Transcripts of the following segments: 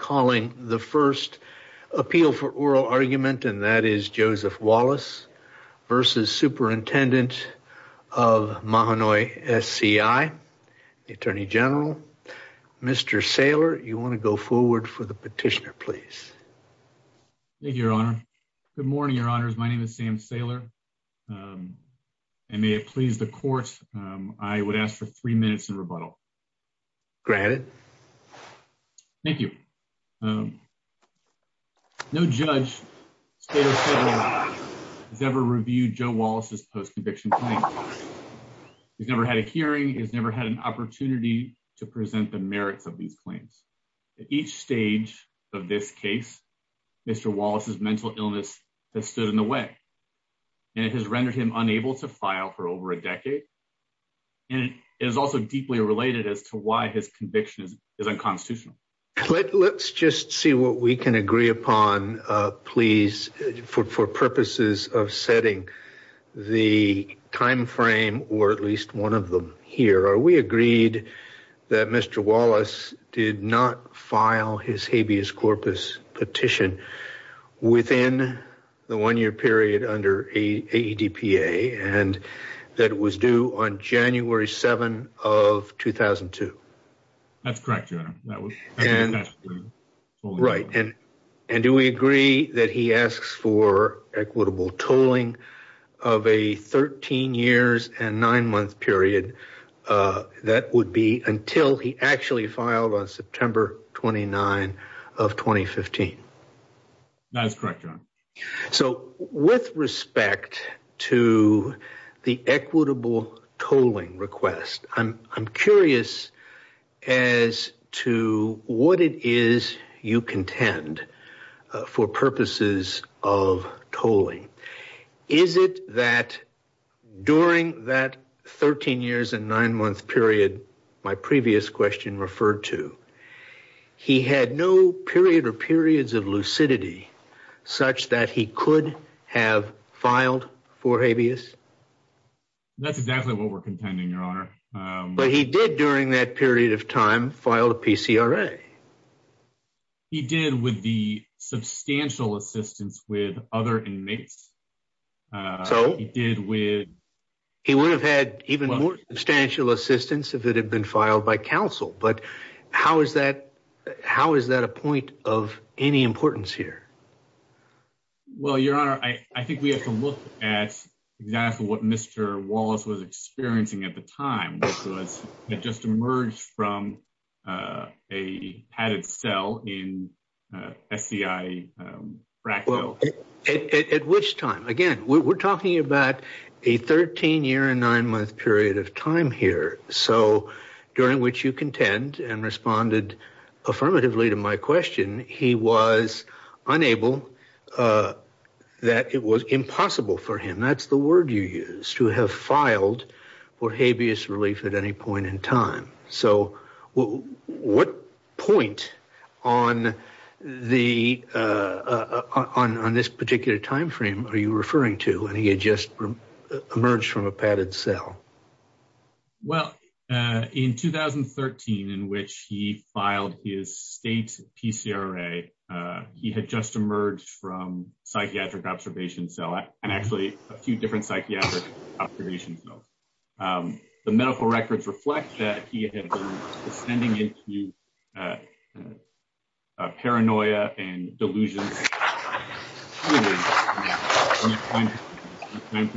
calling the first appeal for oral argument. And that is Joseph Wallace versus Superintendent of Mahanoy SCI. Attorney General Mr Sailor. You want to go forward for the petitioner, please? Thank you, Your Honor. Good morning, Your Honors. My name is Sam Sailor. Um, and may it please the court. I would ask for three minutes in rebuttal. Go ahead. Thank you. Um, no judge has ever reviewed Joe Wallace's post conviction claim. He's never had a hearing. He's never had an opportunity to present the merits of these claims. At each stage of this case, Mr Wallace's mental illness has stood in the way and it has rendered him unable to file for over a decade. And it is also deeply related as to why his conviction is unconstitutional. Let's just see what we can agree upon, please, for purposes of setting the time frame or at least one of them here. Are we agreed that Mr Wallace did not file his habeas corpus petition within the one year period under a D. P. A. And that was due on January 7 of 2000 and two. That's correct. And right. And do we agree that he asks for equitable tolling of a 13 years and nine month period? Uh, that would be until he actually filed on September 29 of 2015. That's correct. So with respect to the equitable tolling request, I'm I'm curious as to what it is you contend for purposes of tolling. Is it that during that 13 years and nine month period, my previous question referred to, he had no period or periods of lucidity such that he could have filed for habeas. That's exactly what we're contending, Your Honor. But he did during that period of time filed a P. C. R. A. He did with the substantial assistance with other inmates. So he did with he would have had even more substantial assistance if it had been filed by counsel. But how is that? How is that a point of any importance here? Well, Your Honor, I think we have to look at exactly what Mr Wallace was experiencing at the time. It just emerged from, uh, a padded cell in S. C. I. Um, at which time again, we're talking about a 13 year and nine month period of time here. So during which you contend and responded affirmatively to my question, he was unable, uh, that it was impossible for him. That's the word you used to have filed for habeas relief at any point in time. So what point on the, uh, on on this particular time frame are you referring to? And you just emerged from a padded cell? Well, uh, in 2013, in which he filed his state P. C. R. A. Uh, he had just emerged from psychiatric observation. So I'm actually a few different psychiatric observations. Um, the medical records reflect that he had sending it to, uh, paranoia and delusions. Thank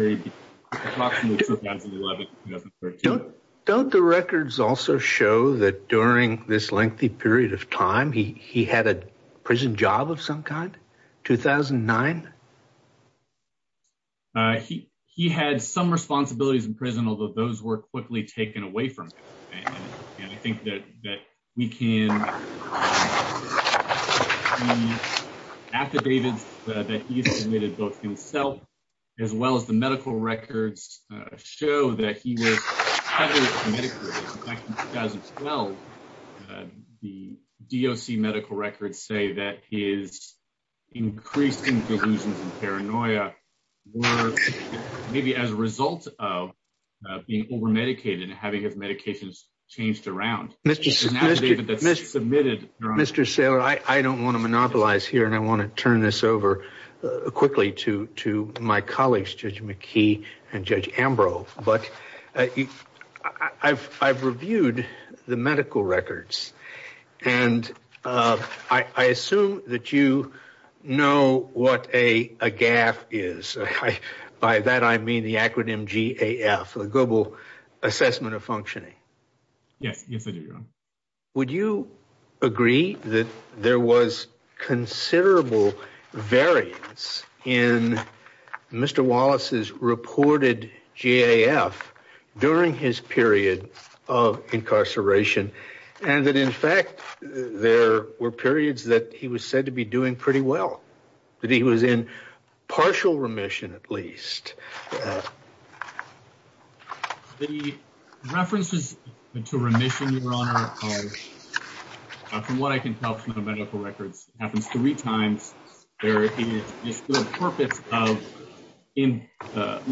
you. Don't the records also show that during this lengthy period of time, he had a prison job of some kind. 2000 and nine. Uh, he he had some responsibilities in prison, although those were quickly taken away from him. And I think that that we can after David that he submitted both himself as well as the medical records show that he was back in 2012. The D. O. C. Medical records say that his increasing delusions and paranoia were maybe as a result of being over medicated and having his medications changed around. Mr. Mr. Mr. Submitted Mr. Sailor. I don't want to monopolize here, and I want to turn this over quickly to to my colleagues, Judge McKee and Judge Ambrose. But I've I've reviewed the medical records, and I is by that. I mean the acronym G. A. F. The global assessment of functioning. Yes. Would you agree that there was considerable variance in Mr. Wallace's reported G. A. F. During his period of incarceration and that, in fact, there were periods that he was said to be doing pretty well that he was in partial remission, at least the references to remission. Your honor, from what I can tell from the medical records happens three times. There is this good purpose of in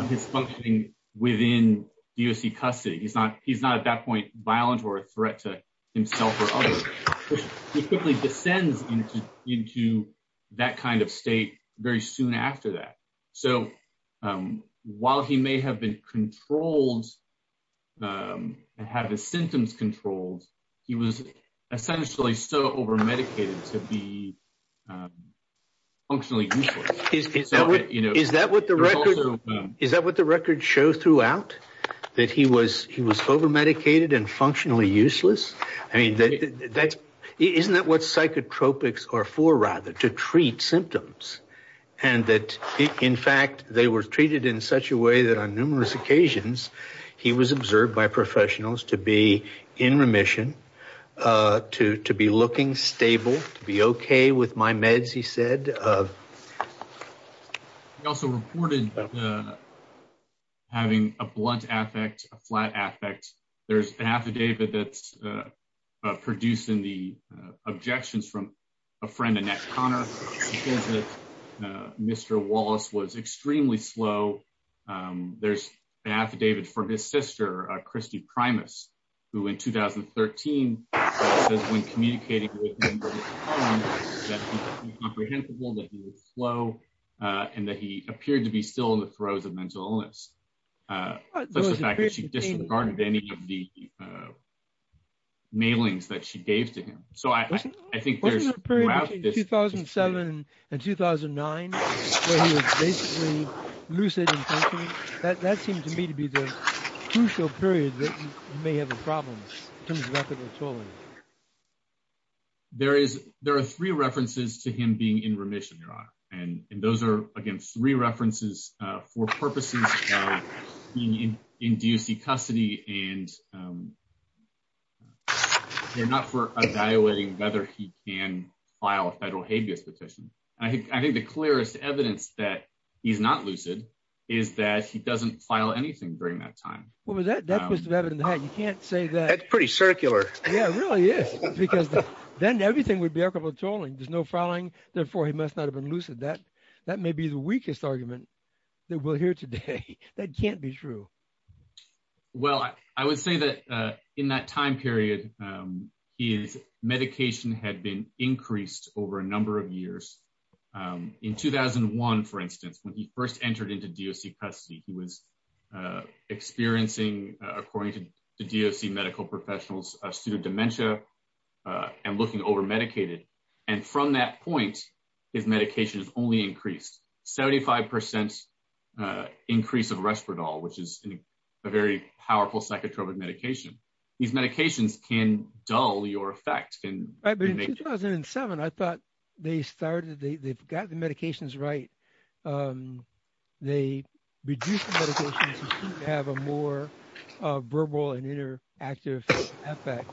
his functioning within U. S. C. Custody. He's not. He's not at that point violent or a threat to himself or other quickly descends into that kind of state very soon after that. So while he may have been controlled, I have the symptoms controlled. He was essentially so over medicated to be functionally. Is that what the record? Is that what the record shows throughout that he was? He was over medicated and functionally useless. I hope it's or for rather to treat symptoms and that, in fact, they were treated in such a way that on numerous occasions he was observed by professionals to be in remission to to be looking stable to be okay with my meds, he said. He also reported having a blunt affect a flat affect. There's an affidavit that's producing the objections from a friend. Annette Connor. Mr. Wallace was extremely slow. There's an affidavit for his sister, Christy Primus, who in 2013 when communicating comprehensible flow and that he appeared to be still in the throes of mental illness. The fact that she disregarded any of the mailings that she gave to him. So I think there's 2007 and 2009. Lucid. That seemed to me to be the crucial period that may have a problem. There is there are three references to him being in remission, Your Honor, and those are against three references for purposes in D. U. C. Custody and they're not for evaluating whether he can file a federal habeas petition. I think I think the clearest evidence that he's not lucid is that he doesn't file anything during that time. What was that? That was the evidence that you can't say that pretty circular. Yeah, really is because then everything would be a couple of tolling. There's no following. Therefore, he must not have been lucid that that may be the weakest argument that we'll hear today that can't be true. Well, I would say that in that time period, his medication had been increased over a number of years in 2001. For instance, when he first entered into D. O. C. Custody, he was experiencing according to the D. O. C. Medical professionals, a student dementia and looking over medicated. And from that point, his medication is only increased 75% increase of respirator, which is a very powerful psychotropic medication. These medications can dull your effect and I've been in 2007. I thought they started. They've got the medications, right? They reduce the medication to have a more verbal and inner active effect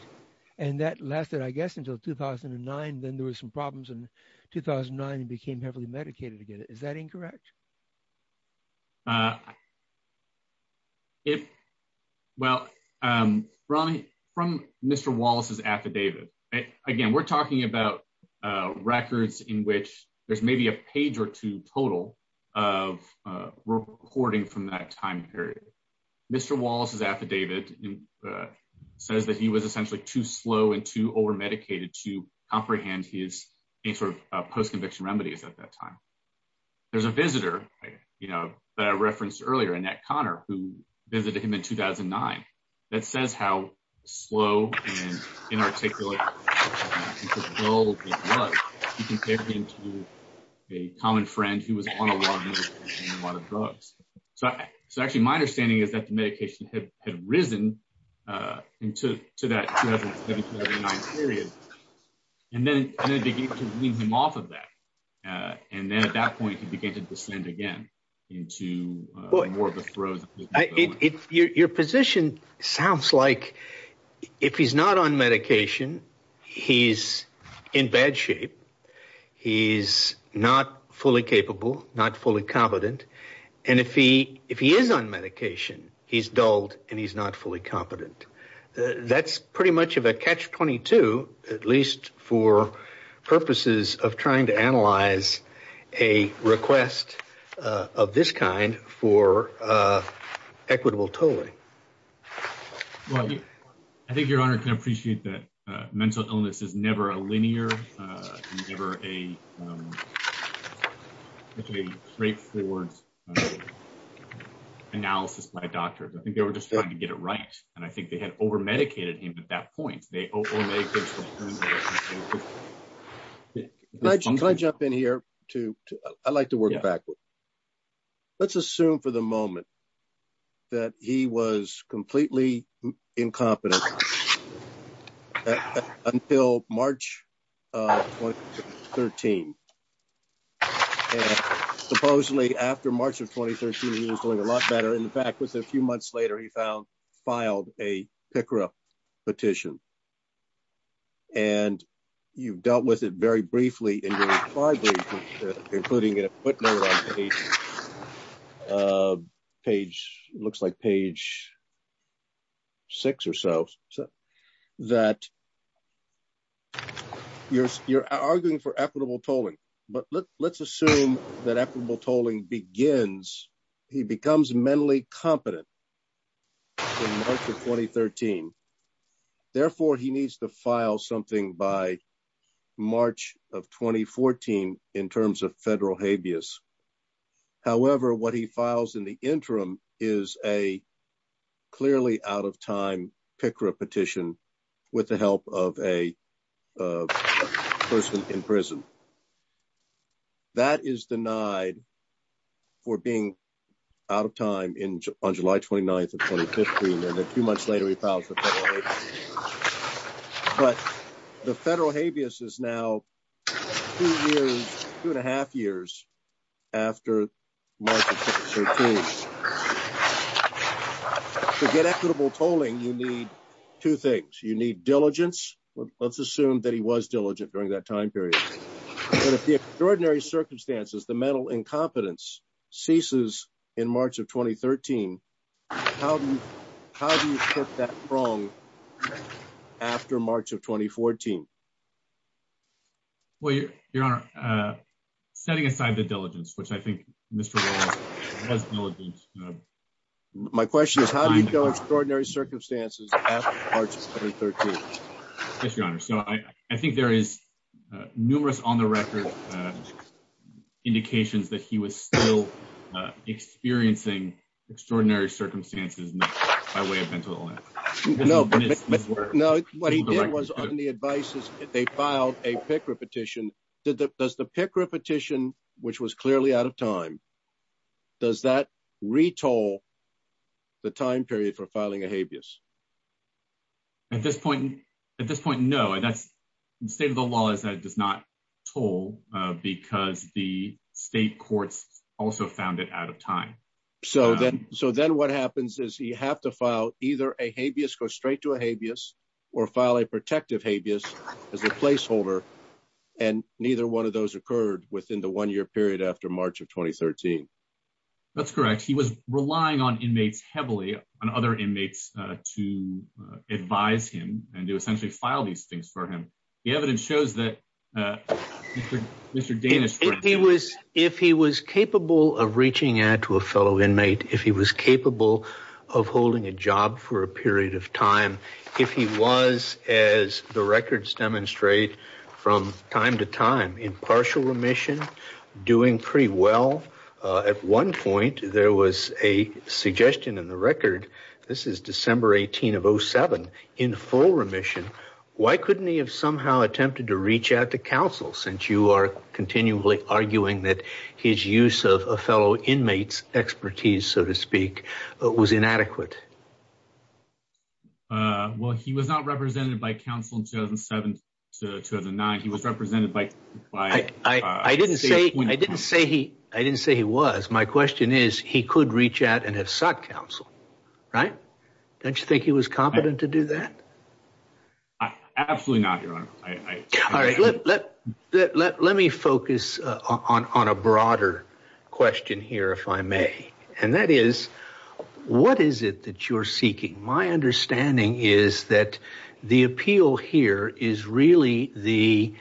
and that lasted, I guess, until 2009. Then there was some problems in 2009 became heavily medicated again. Is that incorrect? If well, from Mr. Wallace's affidavit, again, we're talking about records in which there's maybe a page or two total of reporting from that time period. Mr. Wallace's affidavit says that he was essentially too slow and too over medicated to comprehend his any sort of post-conviction remedies at that time. There's a visitor, you know, that I referenced earlier, Annette Connor, who visited him in 2009. That says how slow and inarticulate a common friend who was on a lot of drugs. So actually my understanding is that the medication had risen into that 2009 period and then began to lead him off of that. And then at that point he began to descend again into more of a throw. Your position sounds like if he's not on medication, he's in bad shape. He's not fully capable, not fully competent. And if he is on medication, he's dulled and he's not fully competent. That's pretty much of a catch-22, at least for purposes of trying to analyze a request of this kind for equitable tolling. I think your Honor can appreciate that mental illness is never a linear, never a straightforward analysis by a doctor. I think they were just trying to get it right. And I think they had over medicated him at that point. They over medicated him. Can I jump in here to, I like to work backwards. Let's assume for the moment that he was completely incompetent until March 2013. Supposedly after March of 2013, he was doing a lot better. In fact, within a few months later, he filed a PICRA petition. And you've dealt with it very briefly, including in a footnote on page, looks like page six or so, that you're arguing for equitable tolling. But let's assume that equitable tolling begins, he becomes mentally competent in March of 2013. Therefore, he needs to file something by March of 2014 in terms of federal habeas. However, what he files in the interim is a clearly out of time PICRA petition with the help of a person in prison. That is denied for being out of time on July 29th of 2015. And a few months later, he filed for federal habeas. But the federal habeas is now two years, two and a half years. After March of 2013. To get equitable tolling, you need two things. You need diligence. Let's assume that he was diligent during that time period. But if the extraordinary circumstances, the mental incompetence ceases in March of 2013, how do you put that prong after March of 2014? Well, your honor, setting aside the diligence, which I think Mr. Williams has diligence. My question is, how do you go extraordinary circumstances after March of 2013? Yes, your honor. So I think there is numerous on the record indications that he was still experiencing extraordinary circumstances by way of mental illness. No, but what he did was on the advice is they filed a PICRA petition. Does the PICRA petition, which was clearly out of time. Does that retoll the time period for filing a habeas? At this point, at this point? No, and that's the state of the law is that it does not toll because the state courts also found it out of time. So then so then what happens is you have to file either a habeas go straight to a habeas or file a protective habeas as a placeholder. And neither one of those occurred within the one year period after March of 2013. That's correct. He was relying on inmates heavily on other inmates to advise him and to essentially file these things for him. The evidence shows that Mr. Davis, if he was if he was capable of reaching out to a fellow inmate, if he was capable of holding a job for a period of time, if he was as the records demonstrate from time to time in partial remission doing pretty well at one point, there was a suggestion in the record. This is December 18 of 07 in full remission. Why couldn't he have somehow attempted to reach out to counsel since you are continually arguing that his use of a fellow inmates expertise, so to speak, was inadequate? Well, he was not represented by counsel in 2007 to 2009. He was represented by I didn't say I didn't say he I didn't say he was. My question is, he could reach out and have sought counsel, right? Don't you think he was competent to do that? Absolutely not. Your Honor, I let let let let me focus on a broader question here, if I may, and that is what is it that you're seeking? My understanding is that the appeal here is really the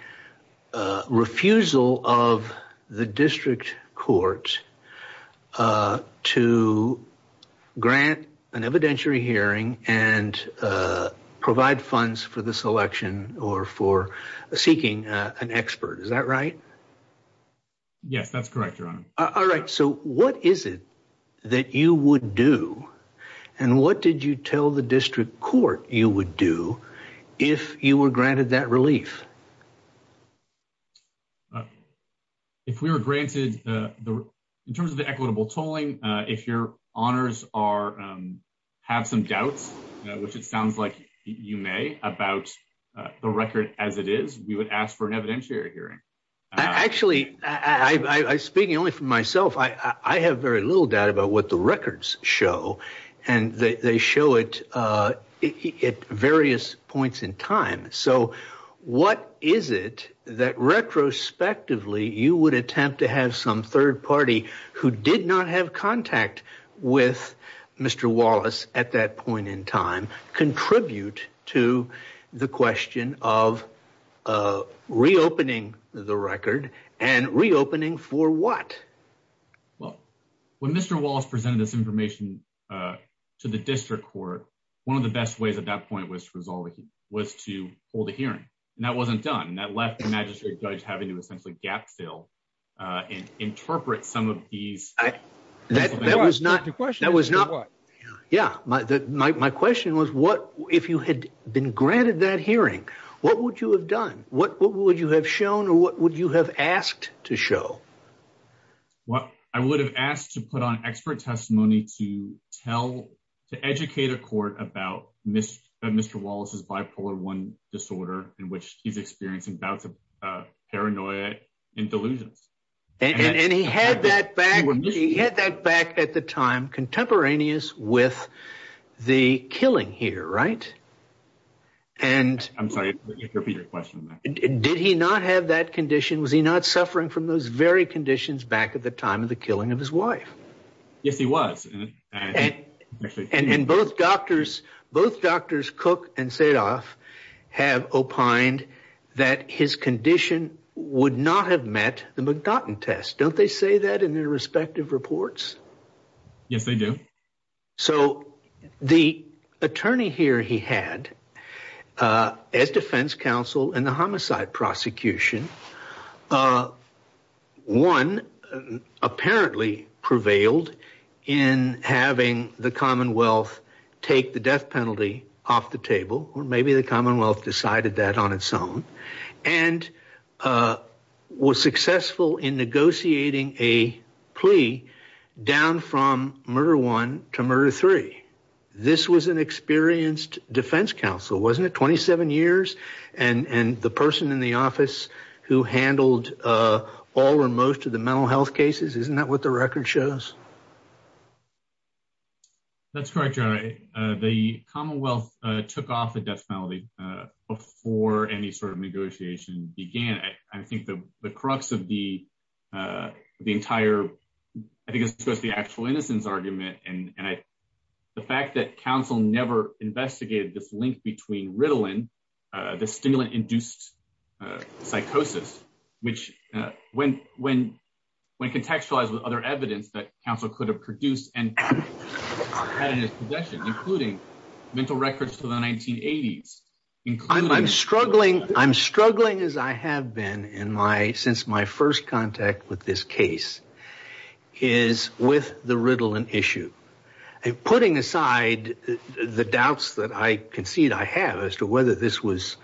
refusal of the district court to grant an evidentiary hearing and provide funds for the selection or for seeking an expert. Is that right? Yes, that's correct. Your Honor. All right. So what is it that you would do and what did you tell the district court you would do if you were granted that relief? If we were granted in terms of the equitable tolling, if your honors are have some doubts, which it sounds like you may about the record as it is, we would ask for an evidentiary hearing. Actually, I speaking only for myself. I have very little doubt about what the records show and they show it at various points in time. So what is it that retrospectively you would attempt to have some third party who did not have contact with Mr. Wallace at that point in time contribute to the question of reopening the record and reopening for what? Well, when Mr. Wallace presented this information to the district court, one of the best ways at that point was to resolve it was to hold a hearing and that wasn't done. And that left the magistrate judge having to essentially gap fill and interpret some of these. That was not the question. That was not what? Yeah, my question was what if you had been granted that hearing, what would you have done? What would you have shown or what would you have asked to show? What I would have asked to put on expert testimony to tell to educate a court about Mr. Wallace's bipolar one disorder in which he's experiencing bouts of paranoia and delusions. And he had that back when he had that back at the time contemporaneous with the killing here, right? And I'm sorry to repeat your question. Did he not have that condition? Was he not suffering from those very conditions back at the time of the killing of his wife? Yes, he was. And in both doctors, both doctors cook and said off have opined that his condition would not have met the McDotton test. Don't they say that in their respective reports? Yes, they do. So the attorney here he had as defense counsel and the homicide prosecution one apparently prevailed in having the Commonwealth take the death penalty off the table or maybe the Commonwealth decided that on its own and was successful in negotiating a plea down from murder one to murder three. This was an experienced defense counsel, wasn't it? 27 years and and the person in the office. Who handled all or most of the mental health cases. Isn't that what the record shows? That's correct. You're right. The Commonwealth took off the death penalty before any sort of negotiation began. I think the crux of the the entire I think it's just the actual innocence argument. And I the fact that Council never investigated this link between Ritalin the stimulant induced psychosis, which when contextualized with other evidence that Council could have produced and had in his possession including mental records to the 1980s. I'm struggling. I'm struggling as I have been in my since my first contact with this case is with the Ritalin issue and putting aside the doubts that I concede I have as to whether this was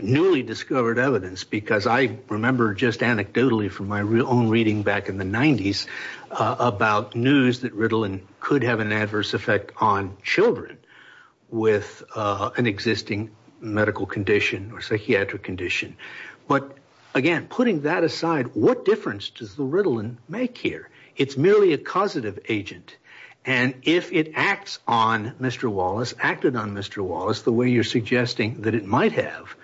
newly discovered evidence because I remember just anecdotally from my real own reading back in the 90s about news that Ritalin could have an adverse effect on children with an existing medical condition or psychiatric condition. But again, putting that aside, what difference does the Ritalin make here? It's merely a causative agent and if it acts on Mr. Wallace the way you're suggesting that it might have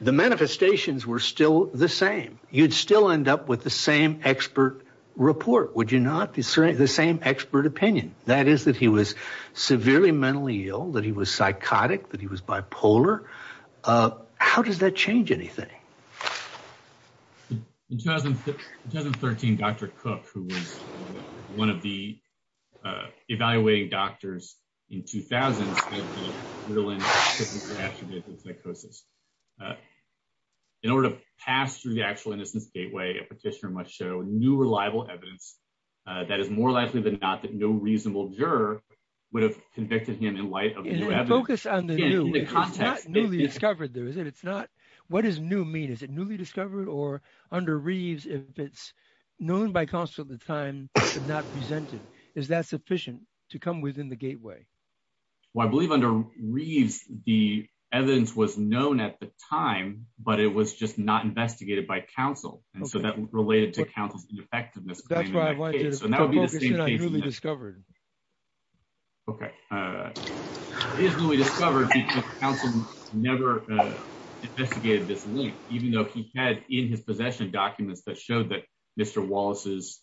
the manifestations were still the same you'd still end up with the same expert report. Would you not be the same expert opinion? That is that he was severely mentally ill that he was psychotic that he was bipolar. How does that change anything? In 2013, Dr. Cook who was one of the evaluating doctors in 2000s in order to pass through the actual innocence gateway a petitioner might show new reliable evidence that is more likely than not that no reasonable juror would have convicted him in light of focus on the new the context newly discovered there is it's not what is new mean is it newly discovered or under Reeves if it's known by constant the time not presented is that sufficient to come within the gateway? Well, I believe under Reeves the evidence was known at the time, but it was just not investigated by Council and so that related to Council's effectiveness. That's why I wanted to know. That would be the same case that I newly discovered. Okay. Is newly discovered Council never investigated this link, even though he had in his possession documents that showed that Mr. Wallace's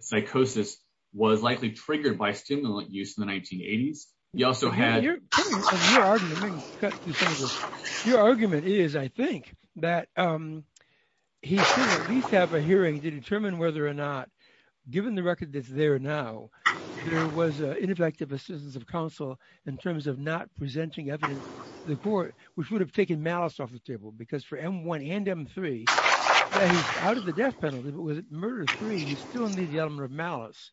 psychosis was likely triggered by stimulant use in the 1980s. You also had your argument is I think that he should at least have a hearing to determine whether or not given the record that's there now there was ineffective assistance of Council in terms of not presenting evidence the court which would have taken malice off the table because for m1 and m3 out of the death penalty, but was it murder three? You still need the element of malice.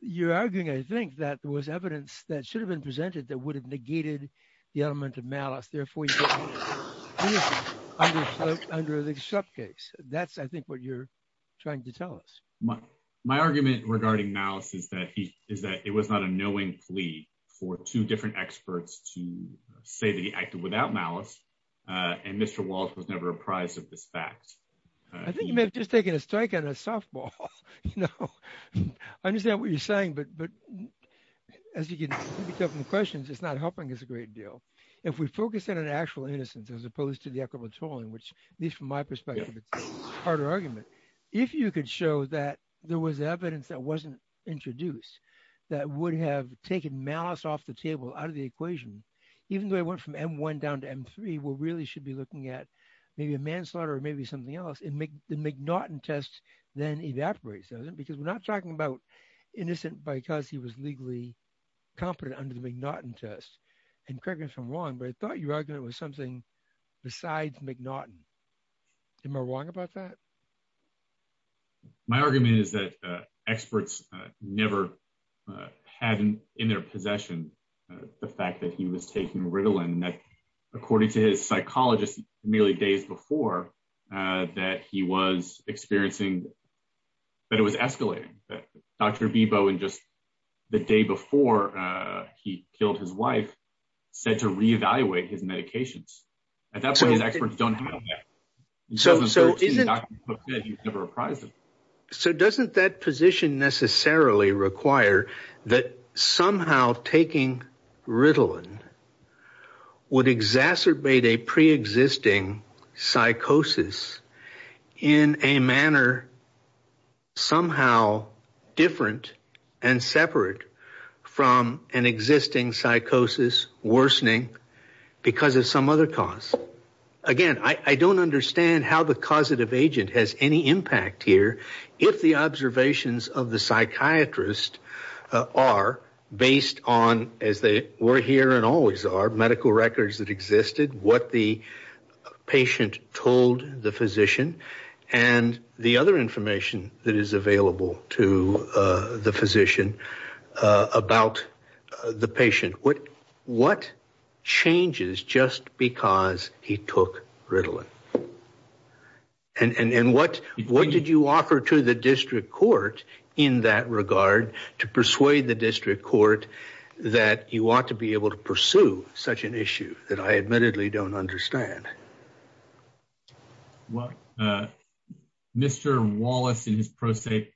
You're arguing. I think that was evidence that should have been presented that would have negated the element of malice. Therefore, you get under the sub case. That's I think what you're trying to tell us my argument regarding malice is that he is that it was not a knowing plea for two different experts to say that he acted without malice and Mr. Wallace was never a prize of this fact. I think you may have just taken a strike on a softball, you know, I understand what you're saying. But but as you can pick up in the questions, it's not helping us a great deal. If we focus in an actual innocence as opposed to the equitable tolling which these from my perspective, it's harder argument if you could show that there was evidence that wasn't introduced that would have taken malice off the table out of the equation, even though I went from m1 down to m3 will really should be looking at maybe a manslaughter or maybe something else in make the McNaughton test then evaporates doesn't because we're not talking about innocent because he was legally competent under the McNaughton test and correct me if I'm wrong, but I thought your argument was something besides McNaughton. Am I wrong about that? My argument is that experts never had in their possession the fact that he was taking Ritalin that according to his psychologist nearly days before that he was experiencing. But it was escalating that dr. Bebo and just the day before he killed his wife said to reevaluate his medications. That's what his experts don't know. So, so isn't it? So doesn't that position necessarily require that somehow taking Ritalin would exacerbate a pre-existing psychosis in a manner somehow different and separate from an existing psychosis worsening because of some other cause again. I don't understand how the causative agent has any impact here. If the observations of the psychiatrist are based on as they were here and always are medical records that existed what the patient told the physician and the other information that is available to the physician about the patient. What what changes just because he took Ritalin and and and what what did you offer to the district court in that regard to persuade the district court that you want to be able to pursue such an issue that I admittedly don't understand. Well, Mr. Wallace and his prostate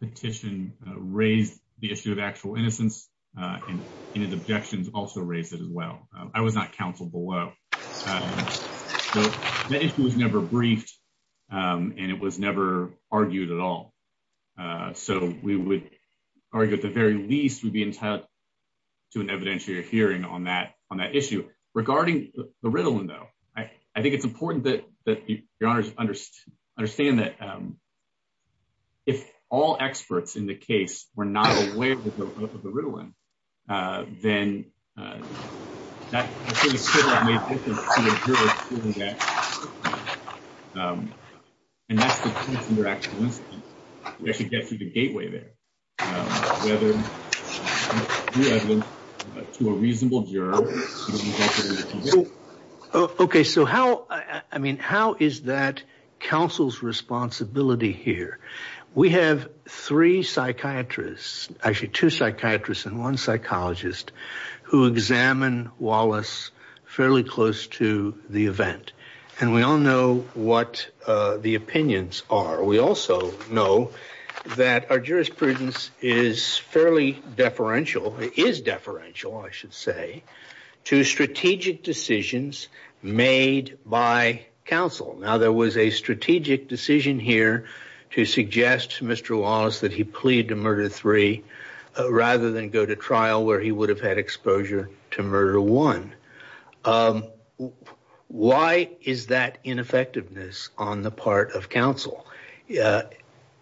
petition raised the issue of actual innocence and his objections also raised it as well. I was not counseled below. The issue was never briefed and it was never argued at all. So we would argue at the very least we'd be entitled to an evidentiary hearing on that on that issue regarding the Ritalin though. I think it's important that the honors understand that if all experts in the case were not aware of the Ritalin then that could have made a difference to the jurors. And that's the point of interaction. We actually get through the gateway there. Whether to a reasonable juror. Okay, so how I mean, how is that counsel's responsibility here? We have three psychiatrists actually two psychiatrists and one psychologist who examine Wallace fairly close to the event and we all know what the opinions are. We also know that our jurisprudence is fairly deferential is deferential. I should say to strategic decisions made by counsel. Now there was a strategic decision here to suggest Mr. Wallace that he plead to murder three rather than go to trial where he would have had exposure to murder one. Why is that ineffectiveness on the part of counsel?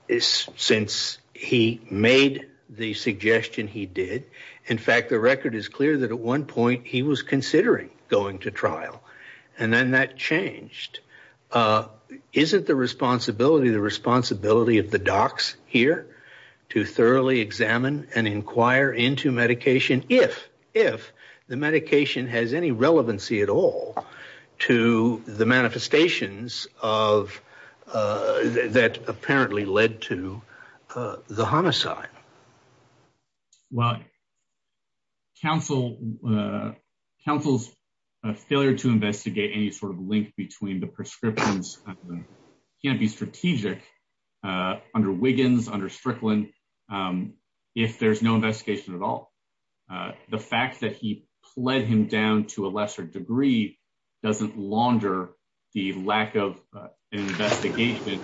Since he made the suggestion he did. In fact, the record is clear that at one point he was considering going to trial and then that changed isn't the responsibility the responsibility of the docs here to thoroughly examine and inquire into medication. If if the medication has any relevancy at all to the manifestations of that apparently led to the homicide. Well counsel counsel's failure to investigate any sort of link between the prescriptions can be strategic under Wiggins under Strickland. If there's no investigation at all, the fact that he pled him down to a lesser degree doesn't launder the lack of investigation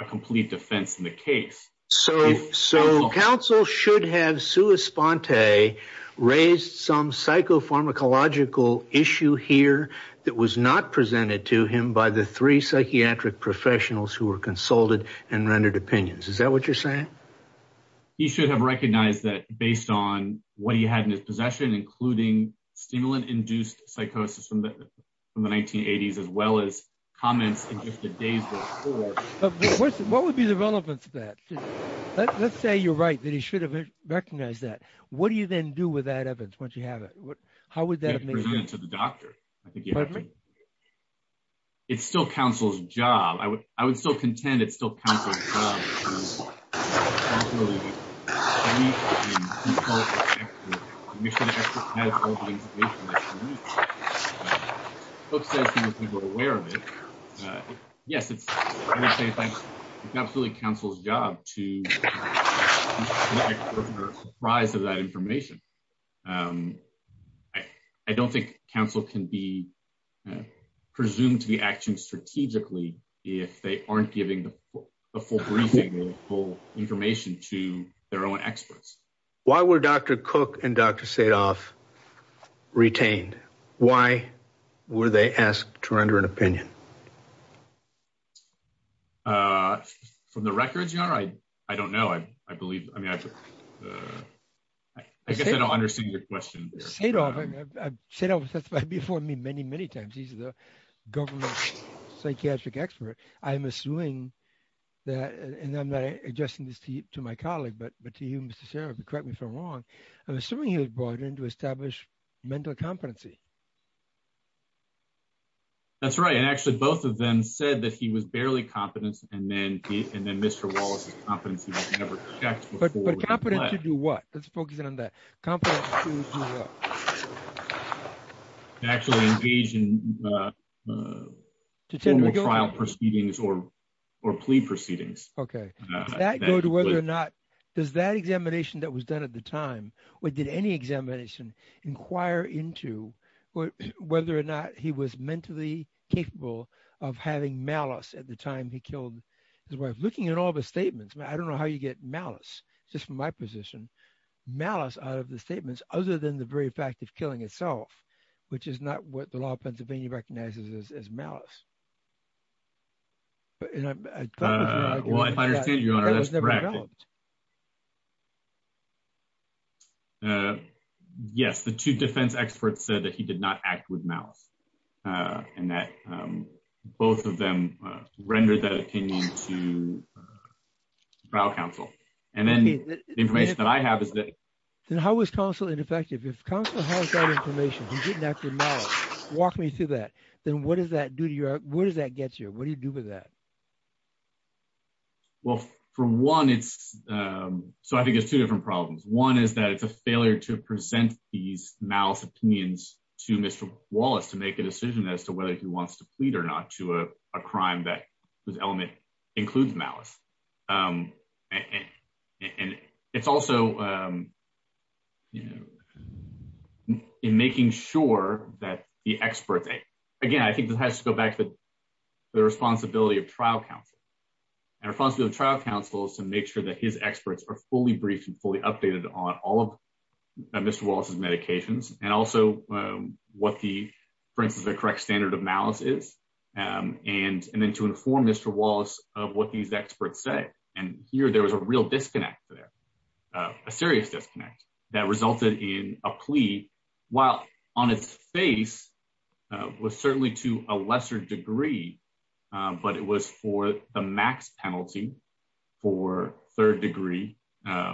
a complete defense in the case. So so counsel should have sua sponte raised some psychopharmacological issue here that was not presented to him by the three psychiatric professionals who were consulted and rendered opinions. Is that what you're saying? He should have recognized that based on what he had in his possession, including stimulant induced psychosis from the from the 1980s as well as comments in just the days before. What would be the relevance of that? Let's say you're right that he should have recognized that. What do you then do with that evidence? Once you have it? How would that make sense to the doctor? It's still counsel's job. I would I would still contend. It's still aware of it. Yes, it's absolutely counsel's job to rise of that information. I don't think counsel can be presumed to be action strategically if they aren't giving the full briefing full information to their own experts. Why were Dr. Cook and Dr. Sadoff retained? Why were they asked to render an opinion? From the records, you know, I I don't know. I I believe I mean, I I guess I don't understand your question. Sadoff, I've said that before me many, many times. He's the government psychiatric expert. I'm assuming that and I'm not adjusting this to my colleague, but but to you, Mr. Sheriff, correct me if I'm wrong. I'm assuming he was brought in to establish mental competency. That's right. And actually both of them said that he was barely competent and then and then Mr. Wallace's competency was never checked. But but competent to do what? Let's focus in on that. Competent to do what? Actually engage in formal trial proceedings or or plea proceedings. Okay, that go to whether or not does that examination that was done at the time or did any examination inquire into whether or not he was mentally capable of having malice at the time? He killed his wife looking at all the statements, but I don't know how you get malice just from my position malice out of the statements other than the very fact of killing itself, which is not what the law of Pennsylvania recognizes as malice. Well, I understand your honor. That's correct. Yes, the two defense experts said that he did not act with malice. And that both of them rendered that opinion to trial counsel. And then the information that I have is that then how was counsel ineffective? If counsel has that information. Walk me through that. Then what does that do to you? What does that get you? What do you do with that? Well, for one, it's so I think it's two different problems. One is that it's a failure to present these malice opinions to Mr. Wallace to make a decision as to whether he wants to plead or not to a crime that was element includes malice. And it's also in making sure that the experts again, I think this has to go back to the responsibility of trial counsel. And our fault of the trial counsel is to make sure that his experts are fully briefed and fully updated on all of Mr. Wallace's medications and also what the for instance, the correct standard of malice is and and then to inform Mr. Wallace of what these experts say and here there was a real disconnect to their serious disconnect that resulted in a plea while on its face was certainly to a lesser degree, but it was for the max penalty for third degree.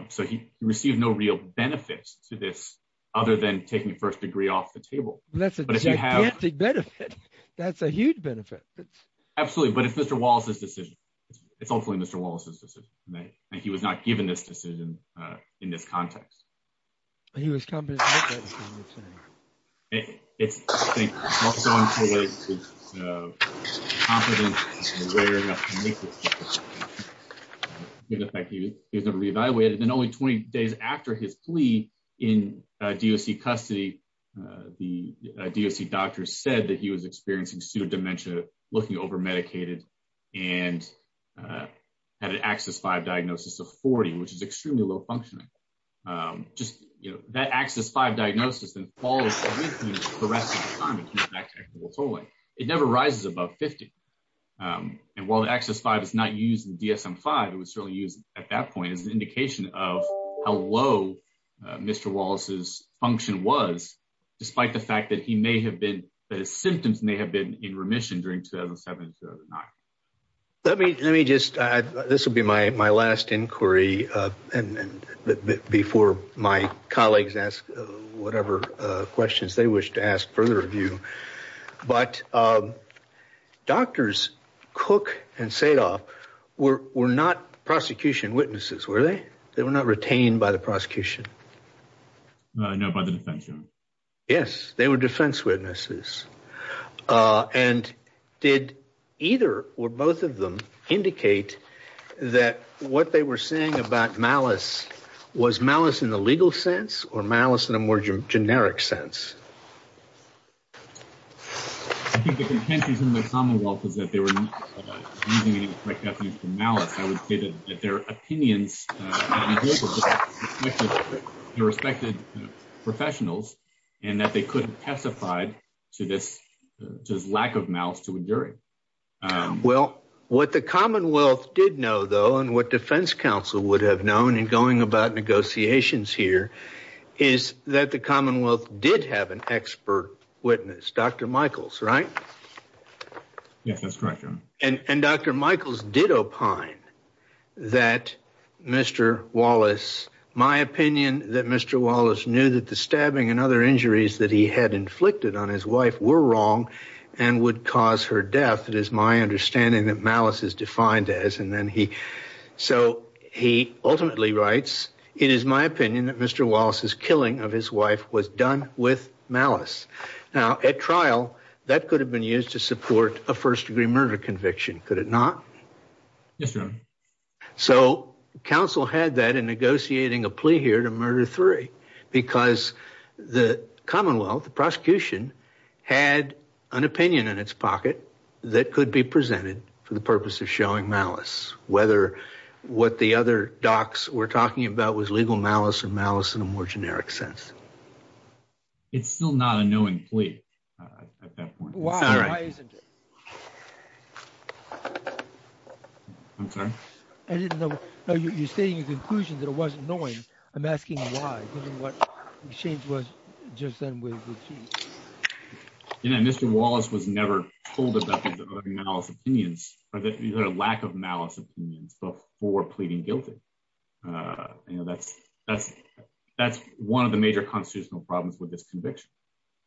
So he received no real benefits to this other than taking the first degree off the table. That's a big benefit. That's a huge benefit. Absolutely. But if Mr. Wallace's decision, it's hopefully Mr. Wallace's decision that he was not given this decision in this context. He was coming. It's Thank you. He was never re-evaluated and only 20 days after his plea in DOC custody, the DOC doctor said that he was experiencing pseudo-dementia looking over medicated and had an axis 5 diagnosis of 40, which is extremely low functioning. Just you know, that axis 5 diagnosis. Totally, it never rises above 50. And while the axis 5 is not used in DSM 5, it was certainly used at that point as an indication of how low Mr. Wallace's function was despite the fact that he may have been the symptoms may have been in remission during 2007-2009. Let me let me just this will be my last inquiry and before my colleagues ask whatever questions they wish to ask further review, but doctors Cook and Sadov were not prosecution witnesses. Were they? They were not retained by the prosecution. No, by the defense. Yes, they were defense witnesses and did either or both of them indicate that what they were saying about malice was malice in the legal sense or malice in a more generic sense. I think the contentions in the Commonwealth was that they were using any correct definition for malice. I would say that their opinions their respected professionals and that they could have testified to this just lack of malice to enduring. Well, what the Commonwealth did know though and what Defense Council would have known and going about negotiations here is that the Commonwealth did have an expert witness. Dr. Michaels, right? Yes, that's correct. And and Dr. Michaels did opine that Mr. Wallace my opinion that Mr. Wallace knew that the stabbing and other injuries that he had inflicted on his wife were wrong and would cause her death. It is my understanding that malice is defined as and then he so he ultimately writes it is my opinion that Mr. Wallace's killing of his wife was done with malice now at trial that could have been used to support a first-degree murder conviction. Could it not? Yes, sir. So Council had that in negotiating a plea here to murder three because the Commonwealth the prosecution had an opinion in its pocket that could be presented for the purpose of showing malice whether what the other docs were talking about was legal malice and malice in a more generic sense. It's still not a knowing plea at that point. Why isn't it? I'm sorry. I didn't know you're stating a conclusion that it wasn't knowing. I'm asking why given what the change was just then with the Chief. You know, Mr. Wallace was never told about his other malice opinions or that either lack of malice opinions before pleading guilty. You know, that's that's that's one of the major constitutional problems with this conviction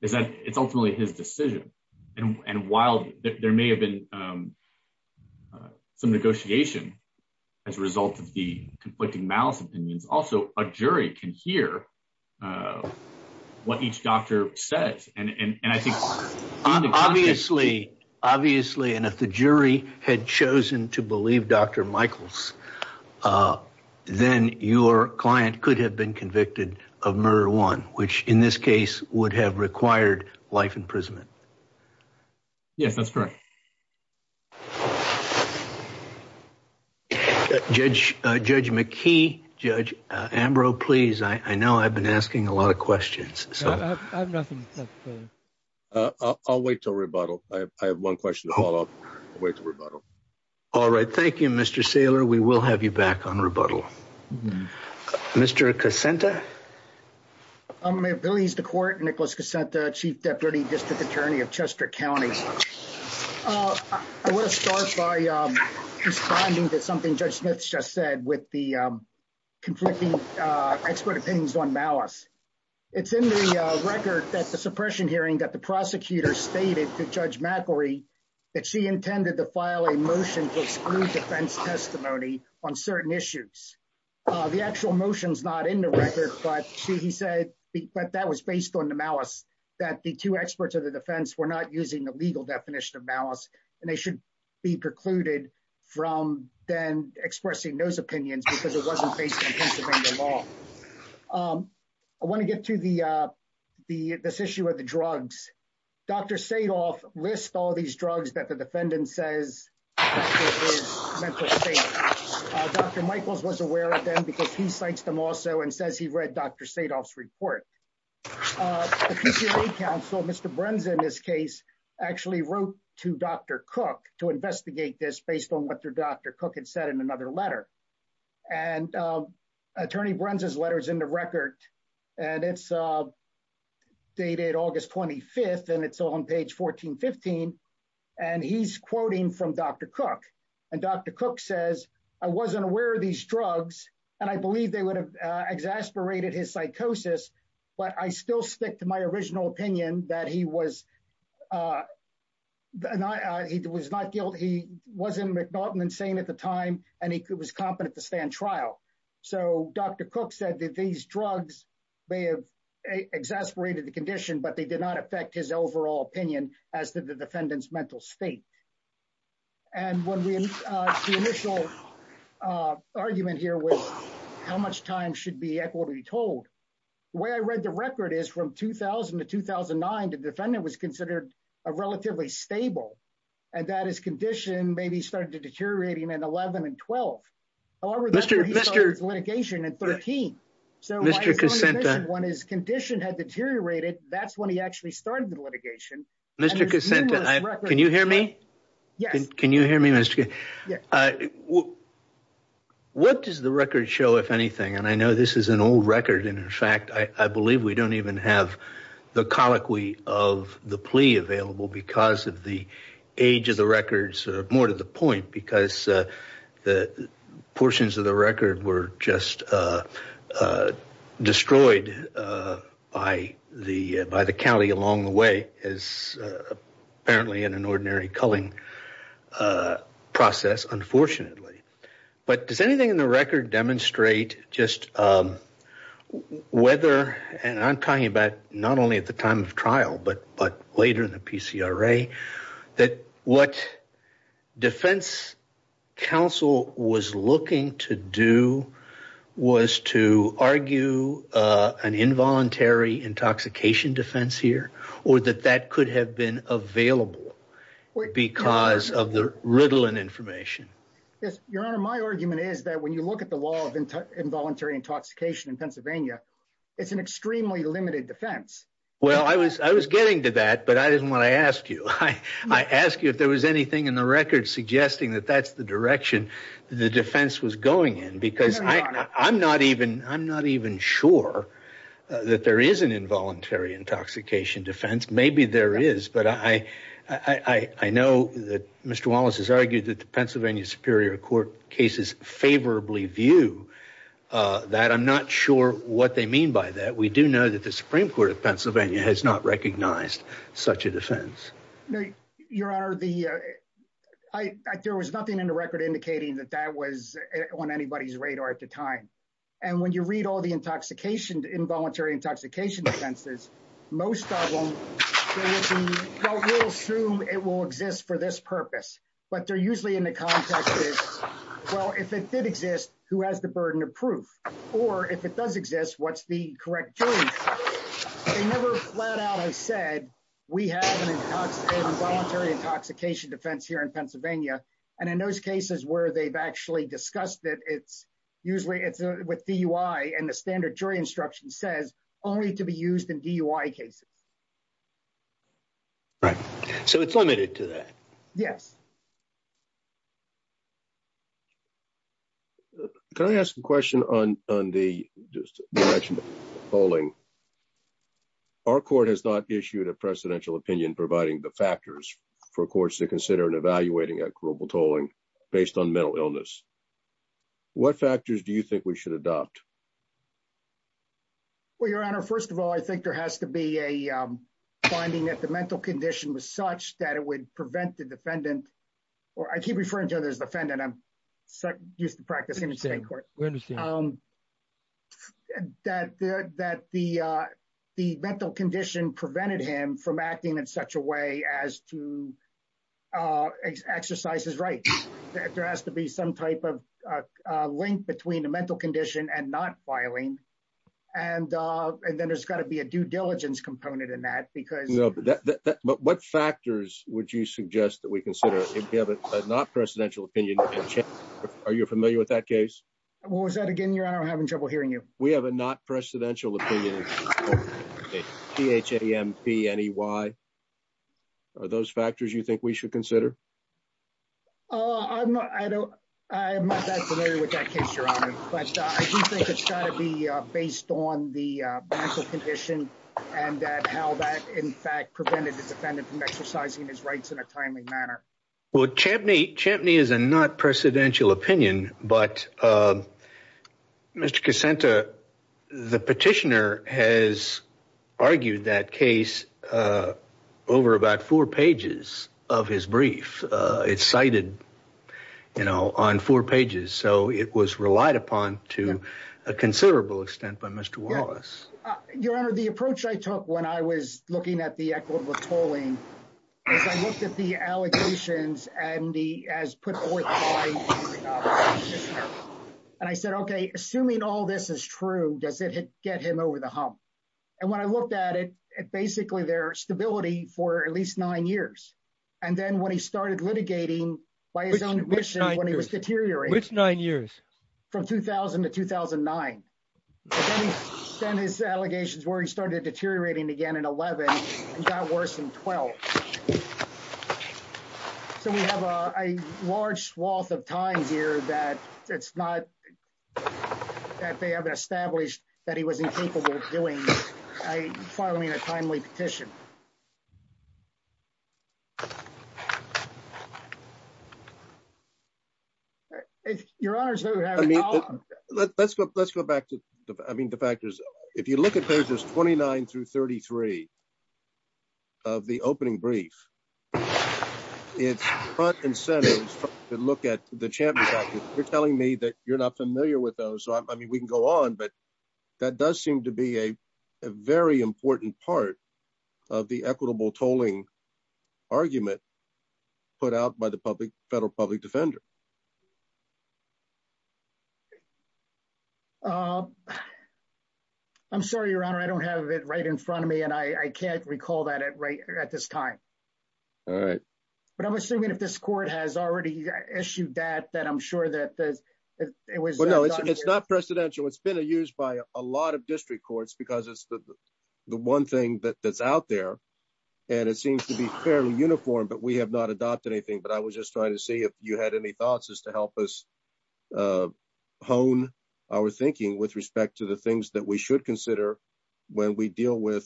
is that it's ultimately his decision and while there may have been some negotiation as a result of the conflicting malice opinions. Also a jury can hear what each doctor says and I think obviously obviously and if the jury had chosen to believe dr. Michaels, then your client could have been convicted of murder one which in this case would have required life imprisonment. Yes, that's correct. Judge judge McKee judge Ambrose, please. I know I've been asking a lot of questions. I'll wait till rebuttal. I have one question to follow up with rebuttal. All right. Thank you. Mr. Saylor. We will have you back on rebuttal. Mr. Cassandra. I'm a Billy's the court Nicholas Cassandra chief deputy district attorney of Chester County. I want to start by responding to something judge Smith's just said with the conflicting expert opinions on malice. It's in the record that the suppression hearing that the prosecutor stated to judge McElroy that she intended to file a motion to exclude defense testimony on certain issues. The actual motions not in the record, but she said but that was based on the malice that the two experts of the defense were not using the legal definition of malice and they should be precluded from then expressing those opinions because it wasn't based on Pennsylvania law. I want to get to the the this issue of the drugs. Dr. Sadoff list all these drugs that the defendant says. Dr. Michaels was aware of them because he cites them also and says he read Dr. Sadoff's report. Council. Mr. Brunson this case actually wrote to dr. Cook to investigate this based on what their doctor cook had said in another letter and attorney Brunson's letters in the record and it's dated August 25th and it's on page 1415 and he's quoting from dr. Cook and dr. Cook says I wasn't aware of these drugs and I believe they would have exasperated his psychosis, but I still stick to my original opinion that he was and I he was not guilt. He wasn't McNaughton and saying at the time and he could was competent to stand trial. So dr. Cook said that these drugs may have exasperated the condition, but they did not affect his overall opinion as to the defendants mental state and when we initial argument here with how much time should be equal to be told where I read the record is from 2000 to 2009 to defendant was considered a relatively stable and that is condition maybe started deteriorating and 11 and 12. Mr. Mr. litigation and 13. So Mr. When his condition had deteriorated, that's when he actually started the litigation. Mr. Cassandra. Can you hear me? Yes. Can you hear me? Mr. What does the record show if anything and I know this is an old record and in fact, I believe we don't even have the colloquy of the plea available because of the age of the records are more to the point because the portions of the record were just destroyed by the by the county along the way as apparently in an ordinary culling process, unfortunately, but does anything in the record demonstrate just whether and I'm talking about not only at the time of trial, but but in the PCRA that what Defense Council was looking to do was to argue an involuntary intoxication defense here or that that could have been available because of the riddle and information. Yes, your honor. My argument is that when you look at the law of involuntary intoxication in Pennsylvania, it's an extremely limited defense. Well, I was I was getting to that but I didn't want to ask you. Hi, I asked you if there was anything in the record suggesting that that's the direction the defense was going in because I I'm not even I'm not even sure that there is an involuntary intoxication defense. Maybe there is but I I know that Mr. Wallace has argued that the Pennsylvania Superior Court cases favorably view that I'm not sure what they mean by that. We do know that the Supreme Court of Pennsylvania has not recognized such a defense. No, your honor. The I there was nothing in the record indicating that that was on anybody's radar at the time. And when you read all the intoxication involuntary intoxication defenses, most of them assume it will exist for this purpose, but they're usually in the context is well if it did exist who has the burden of proof or if it does exist, what's the correct jury? They never flat out. I said we have an intoxicated involuntary intoxication defense here in Pennsylvania. And in those cases where they've actually discussed it, it's usually it's with DUI and the standard jury instruction says only to be used in DUI cases. Right, so it's limited to that. Yes. Can I ask a question on on the direction of polling? Our court has not issued a presidential opinion providing the factors for courts to consider and evaluating a global tolling based on mental illness. What factors do you think we should adopt? Well, your honor. First of all, I think there has to be a finding that the mental condition was such that it would prevent the defendant from being convicted of or I keep referring to others defendant. I'm so used to practicing in state court. We understand that that the the mental condition prevented him from acting in such a way as to exercise his right. There has to be some type of link between a mental condition and not filing and and then there's got to be a due diligence component in that because what factors would you suggest that we consider if you have a not presidential opinion? Are you familiar with that case? What was that again? Your honor? I'm having trouble hearing you. We have a not presidential opinion. P-H-A-M-P-N-E-Y. Are those factors you think we should consider? I'm not, I don't, I'm not that familiar with that case, your honor. But I do think it's got to be based on the mental condition and how that in fact prevented the defendant from exercising his rights in a timely manner. Well, Chambney, Chambney is a not presidential opinion, but Mr. Cassanta, the petitioner has argued that case over about four pages of his brief. It's cited, So it was relied upon to a considerable extent by Mr. Wallace. Your honor, the approach I took when I was looking at the equitable tolling, I looked at the allegations and he has put forth by and I said, okay, assuming all this is true, does it get him over the hump? And when I looked at it, basically their stability for at least nine years. And then when he started litigating by his own admission when he was deteriorating. Which nine years? From 2000 to 2009. Then he sent his allegations where he started deteriorating again in 11 and got worse in 12. So we have a large swath of time here that it's not that they haven't established that he was incapable of doing a filing a timely petition. Your honor. I mean, let's go. Let's go back to the I mean the factors if you look at pages 29 through 33. Of the opening brief. It's front and center to look at the champion. You're telling me that you're not familiar with those. So I mean we can go on but that does seem to be a very important part of the equitable tolling argument put out by the public federal public defender. I'm sorry, your honor. I don't have it right in front of me and I can't recall that it right at this time. All right, but I'm assuming if this court has already issued that that I'm sure that this it was it's not presidential. It's been a used by a lot of district courts because it's the the one thing that that's out there and it seems to be fairly uniform, but we have not adopted anything. But I was just trying to see if you had any thoughts is to help us hone our thinking with respect to the things that we should consider when we deal with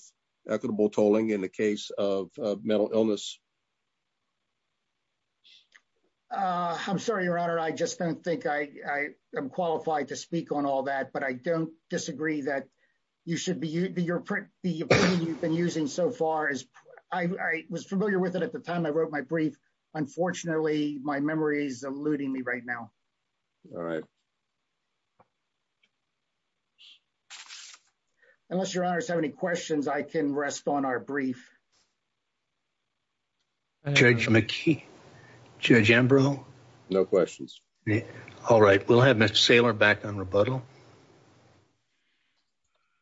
equitable tolling in the case of mental illness. I'm sorry, your honor. I just don't think I am qualified to speak on all that but I don't disagree that you should be your print the you've been using so far as I was familiar with it at the time. I wrote my brief. Unfortunately, my memory is eluding me right now. All right. Unless your honors have any questions. I can rest on our brief. Judge McKee judge Embrough. No questions. All right. We'll have Mr. Saylor back on rebuttal.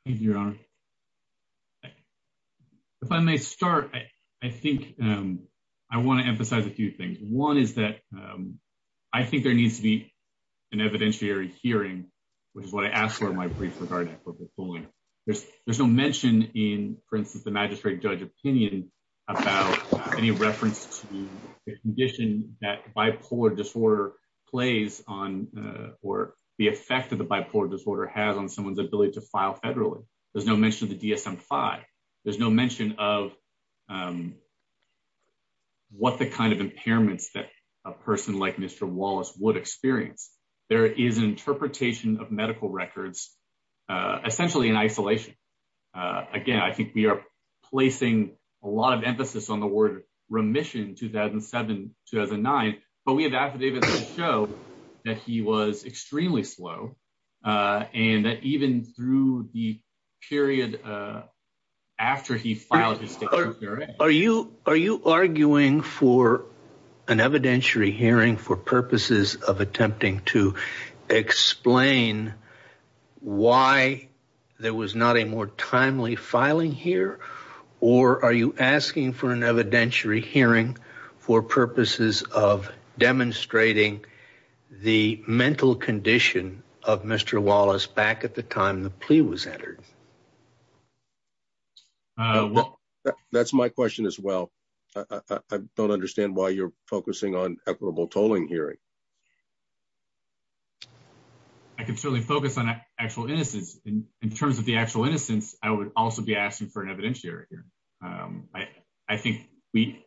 You're on. If I may start, I think I want to emphasize a few things. One is that I think there needs to be an evidentiary hearing which is what I asked for my brief regarding equitable tolling. There's no mention in for instance, the magistrate judge opinion about any reference to the condition that bipolar disorder plays on or the effect of the bipolar disorder has on someone's ability to file federally. There's no mention of the DSM-5. There's no mention of what the kind of impairments that a person like Mr. Wallace would experience. There is an interpretation of medical records essentially in isolation. Again, I think we are placing a lot of emphasis on the word remission 2007-2009, but we have affidavits that show that he was extremely slow and that even through the period after he filed his... Are you are you arguing for an evidentiary hearing for purposes of attempting to explain why there was not a more timely filing here or are you asking for an evidentiary hearing for purposes of demonstrating the mental condition of Mr. Wallace back at the time the plea was entered? Well, that's my question as well. I don't understand why you're focusing on equitable tolling hearing. I can certainly focus on actual innocence. In terms of the actual innocence, I would also be asking for an evidentiary hearing. I think we...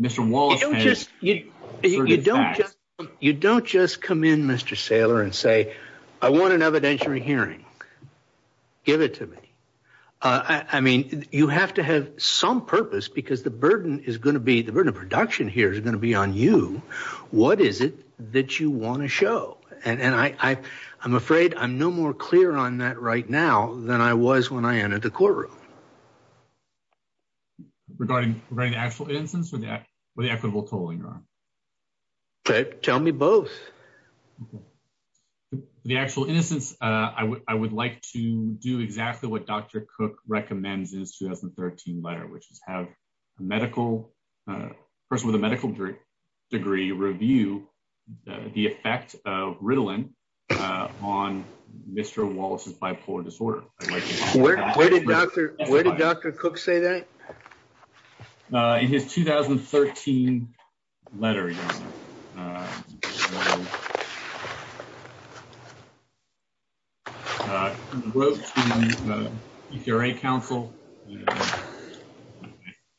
Mr. Wallace... You don't just come in Mr. Saylor and say I want an evidentiary hearing. Give it to me. I mean, you have to have some purpose because the burden is going to be, the burden of production here is going to be on you. What is it that you want to show? And I'm afraid I'm no more clear on that right now than I was when I entered the courtroom. Regarding the actual innocence or the equitable tolling? Tell me both. The actual innocence, I would like to do exactly what Dr. Cook recommends in his 2013 letter, which is have a medical, person with a medical degree review the effect of Ritalin on Mr. Wallace's bipolar disorder. Where did Dr. Cook say that? In his 2013 letter. He wrote to the PCRA counsel.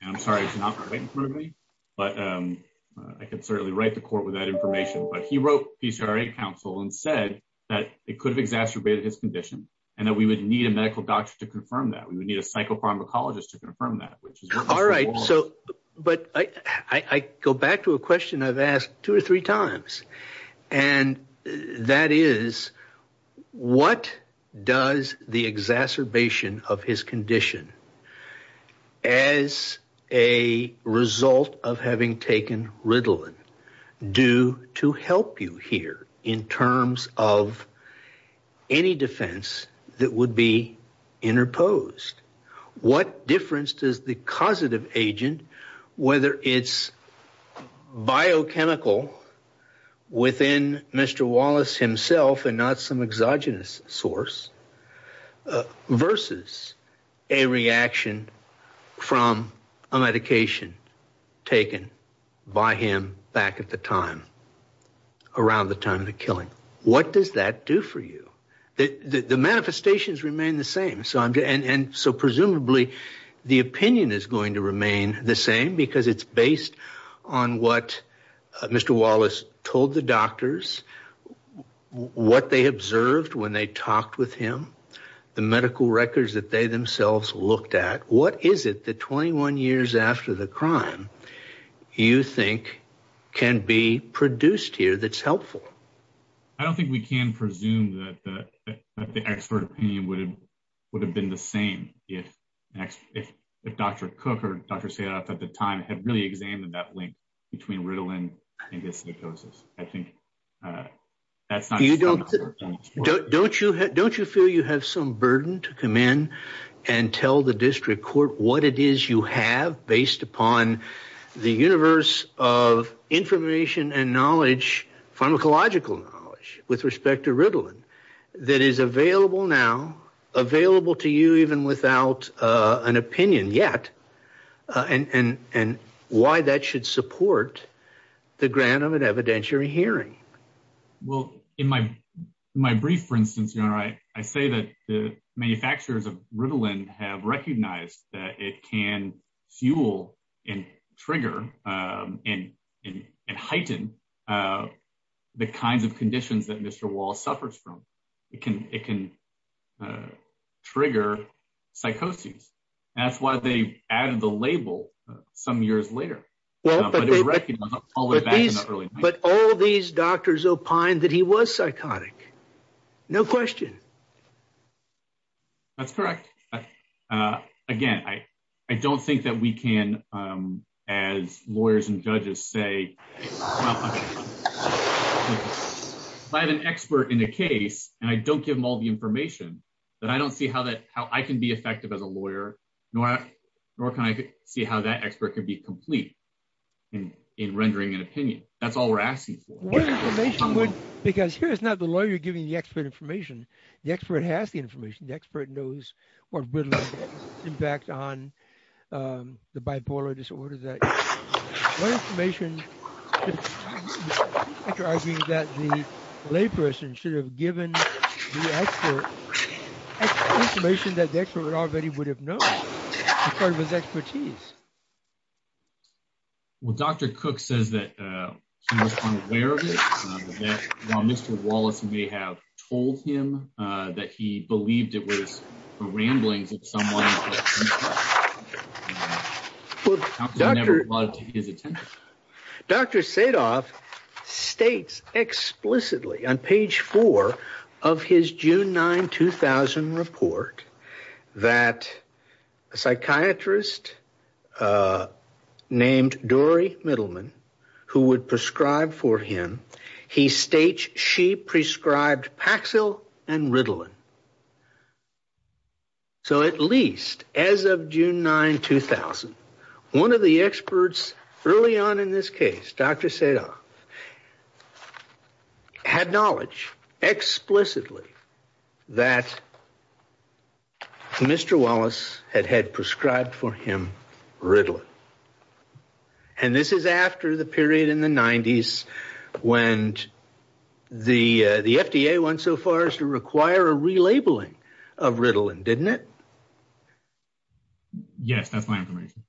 I'm sorry, it's not right in front of me, but I can certainly write the court with that information. But he wrote PCRA counsel and said that it could have exacerbated his condition and that we would need a medical doctor to confirm that. We would need a psychopharmacologist to confirm that, which is what Mr. Wallace... All right. So, but I go back to a question I've asked two or three times and that is what does the exacerbation of his condition as a result of having taken Ritalin do to help you here in terms of any defense that would be interposed? What difference does the causative agent, whether it's biochemical within Mr. Wallace himself and not some exogenous source versus a reaction from a medication taken by him back at the time, around the time of the killing. What does that do for you? The manifestations remain the same. And so presumably the opinion is going to remain the same because it's based on what Mr. Wallace told the doctors, what they observed when they talked with him, the medical records that they themselves looked at. What is it that 21 years after the crime you think can be produced here that's helpful? I don't think we can presume that the expert opinion would have been the same if Dr. Cook or Dr. Sayadat at the time had really examined that link between Ritalin and dyslipidosis. I think that's not- Don't you feel you have some burden to come in and tell the district court what it is you have based upon the universe of information and knowledge, pharmacological knowledge with respect to Ritalin that is available now, available to you even without an opinion yet, and why that should support the grant of an evidentiary hearing? Well, in my brief, for instance, I say that the manufacturers of Ritalin have recognized that it can fuel and trigger and heighten the kinds of conditions that Mr. Wall suffers from. It can trigger psychosis. That's why they added the label some years later. Well, but all these doctors opined that he was psychotic. No question. That's correct. Again, I don't think that we can, as lawyers and judges say, if I have an expert in a case and I don't give him all the information, that I don't see how I can be effective as a lawyer, nor can I see how that expert could be complete in rendering an opinion. That's all we're asking for. What information would- Because here it's not the lawyer giving the expert information. The expert has the information. The expert knows what Ritalin can impact on the bipolar disorder. What information, after arguing that the layperson should have given the expert information that the expert already would have known as part of his expertise? Well, Dr. Cook says that he was unaware of it. While Mr. Wallace may have told him that he believed it was a ramblings of someone. Well, Dr. Sadov states explicitly on page four of his June 9, 2000 report that a psychiatrist named Dory Middleman, who would prescribe for him, he states she prescribed Paxil and Ritalin. So, at least as of June 9, 2000, one of the experts early on in this case, Dr. Sadov, had knowledge explicitly that Mr. Wallace had had prescribed for him Ritalin. And this is after the period in the 90s when the FDA went so far as to require a Ritalin. Relabeling of Ritalin, didn't it? Yes, that's my information.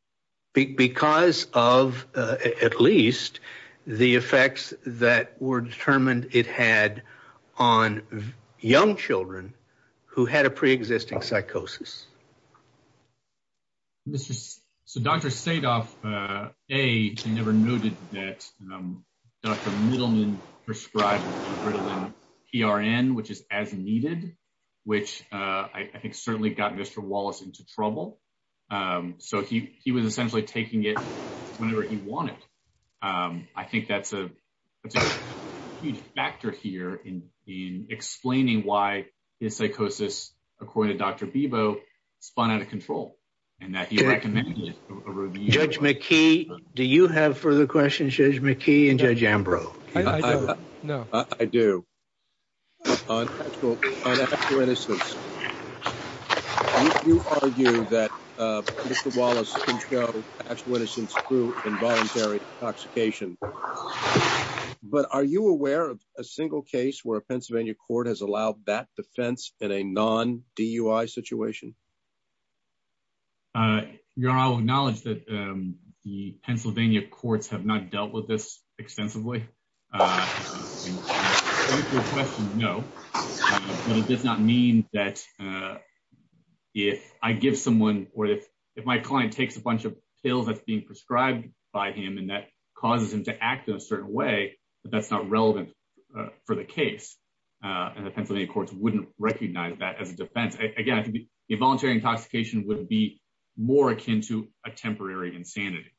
Because of, at least, the effects that were determined it had on young children who had a pre-existing psychosis. So, Dr. Sadov, A, never noted that Dr. Middleman prescribed Ritalin PRN, which is as needed, which I think certainly got Mr. Wallace into trouble. So, he was essentially taking it whenever he wanted. I think that's a huge factor here in explaining why his psychosis, according to Dr. Bebo, spun out of control. And that he recommended a review. Judge McKee, do you have further questions, Judge McKee and Judge Ambrose? I do. On actual innocence, you argue that Mr. Wallace controlled actual innocence through involuntary intoxication. But are you aware of a single case where a Pennsylvania court has allowed that defense in a non-DUI situation? Your Honor, I'll acknowledge that the Pennsylvania courts have not dealt with this extensively. I think your question, no. But it does not mean that if I give someone, or if my client takes a bunch of pills that's being prescribed by him, and that causes him to act in a certain way, that that's not relevant for the case. And the Pennsylvania courts wouldn't recognize that as a defense. Again, involuntary intoxication would be more akin to a temporary insanity.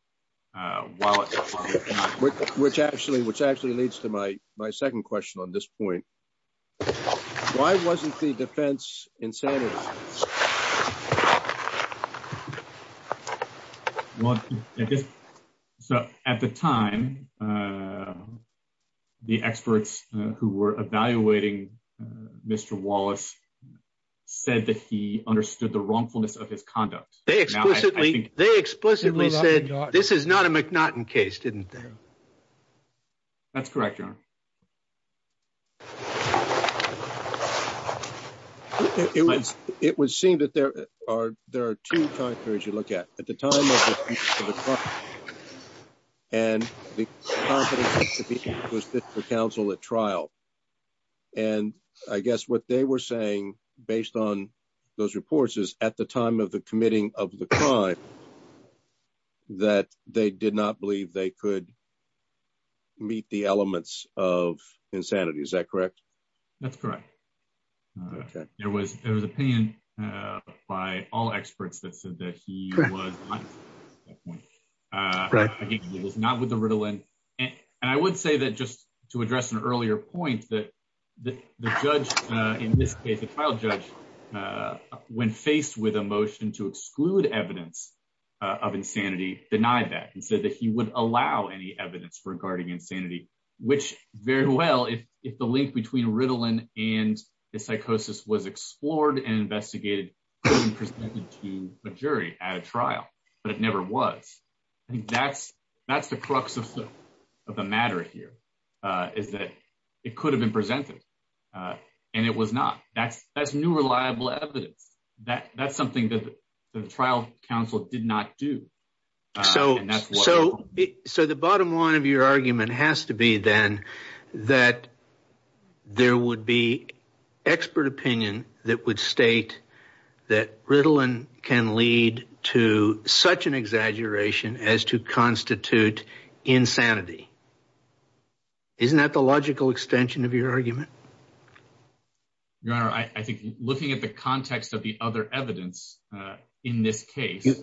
Which actually leads to my second question on this point. Why wasn't the defense insanity? So at the time, the experts who were evaluating Mr. Wallace said that he understood the wrongfulness of his conduct. They explicitly said, this is not a McNaughton case, didn't they? That's correct, Your Honor. It would seem that there are two time periods you look at. At the time of the trial, and the confidence that he was fit for counsel at trial. And I guess what they were saying, based on those reports, is at the time of the committing of the crime, that they did not believe they could meet the elements of insanity. Is that correct? That's correct. There was an opinion by all experts that said that he was not with the Ritalin. And I would say that just to address an earlier point, that the trial judge, when faced with a motion to exclude evidence of insanity, denied that and said that he would allow any evidence regarding insanity. Which, very well, if the link between Ritalin and the psychosis was explored and investigated and presented to a jury at a trial. But it never was. I think that's the crux of the matter here. Is that it could have been presented. And it was not. That's new reliable evidence. That's something that the trial counsel did not do. So the bottom line of your argument has to be, then, that there would be expert opinion that would state that Ritalin can lead to such an exaggeration as to constitute insanity. Isn't that the logical extension of your argument? Your Honor, I think looking at the context of the other evidence in this case,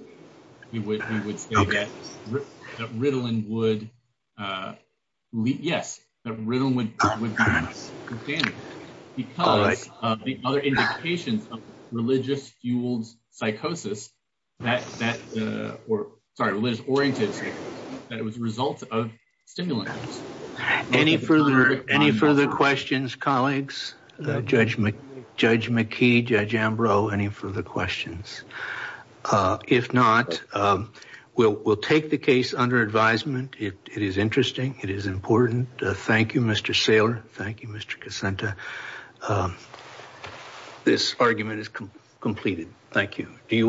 we would say that Ritalin would, yes, that Ritalin would be insanity. Because of the other indications of religious-fueled psychosis, that, or sorry, religious-oriented psychosis, that it was a result of stimulant use. Any further questions, colleagues? Judge McKee, Judge Ambrose, any further questions? If not, we'll take the case under advisement. It is interesting. It is important. Thank you, Mr. Saylor. Thank you, Mr. Cassenta. This argument is completed. Thank you.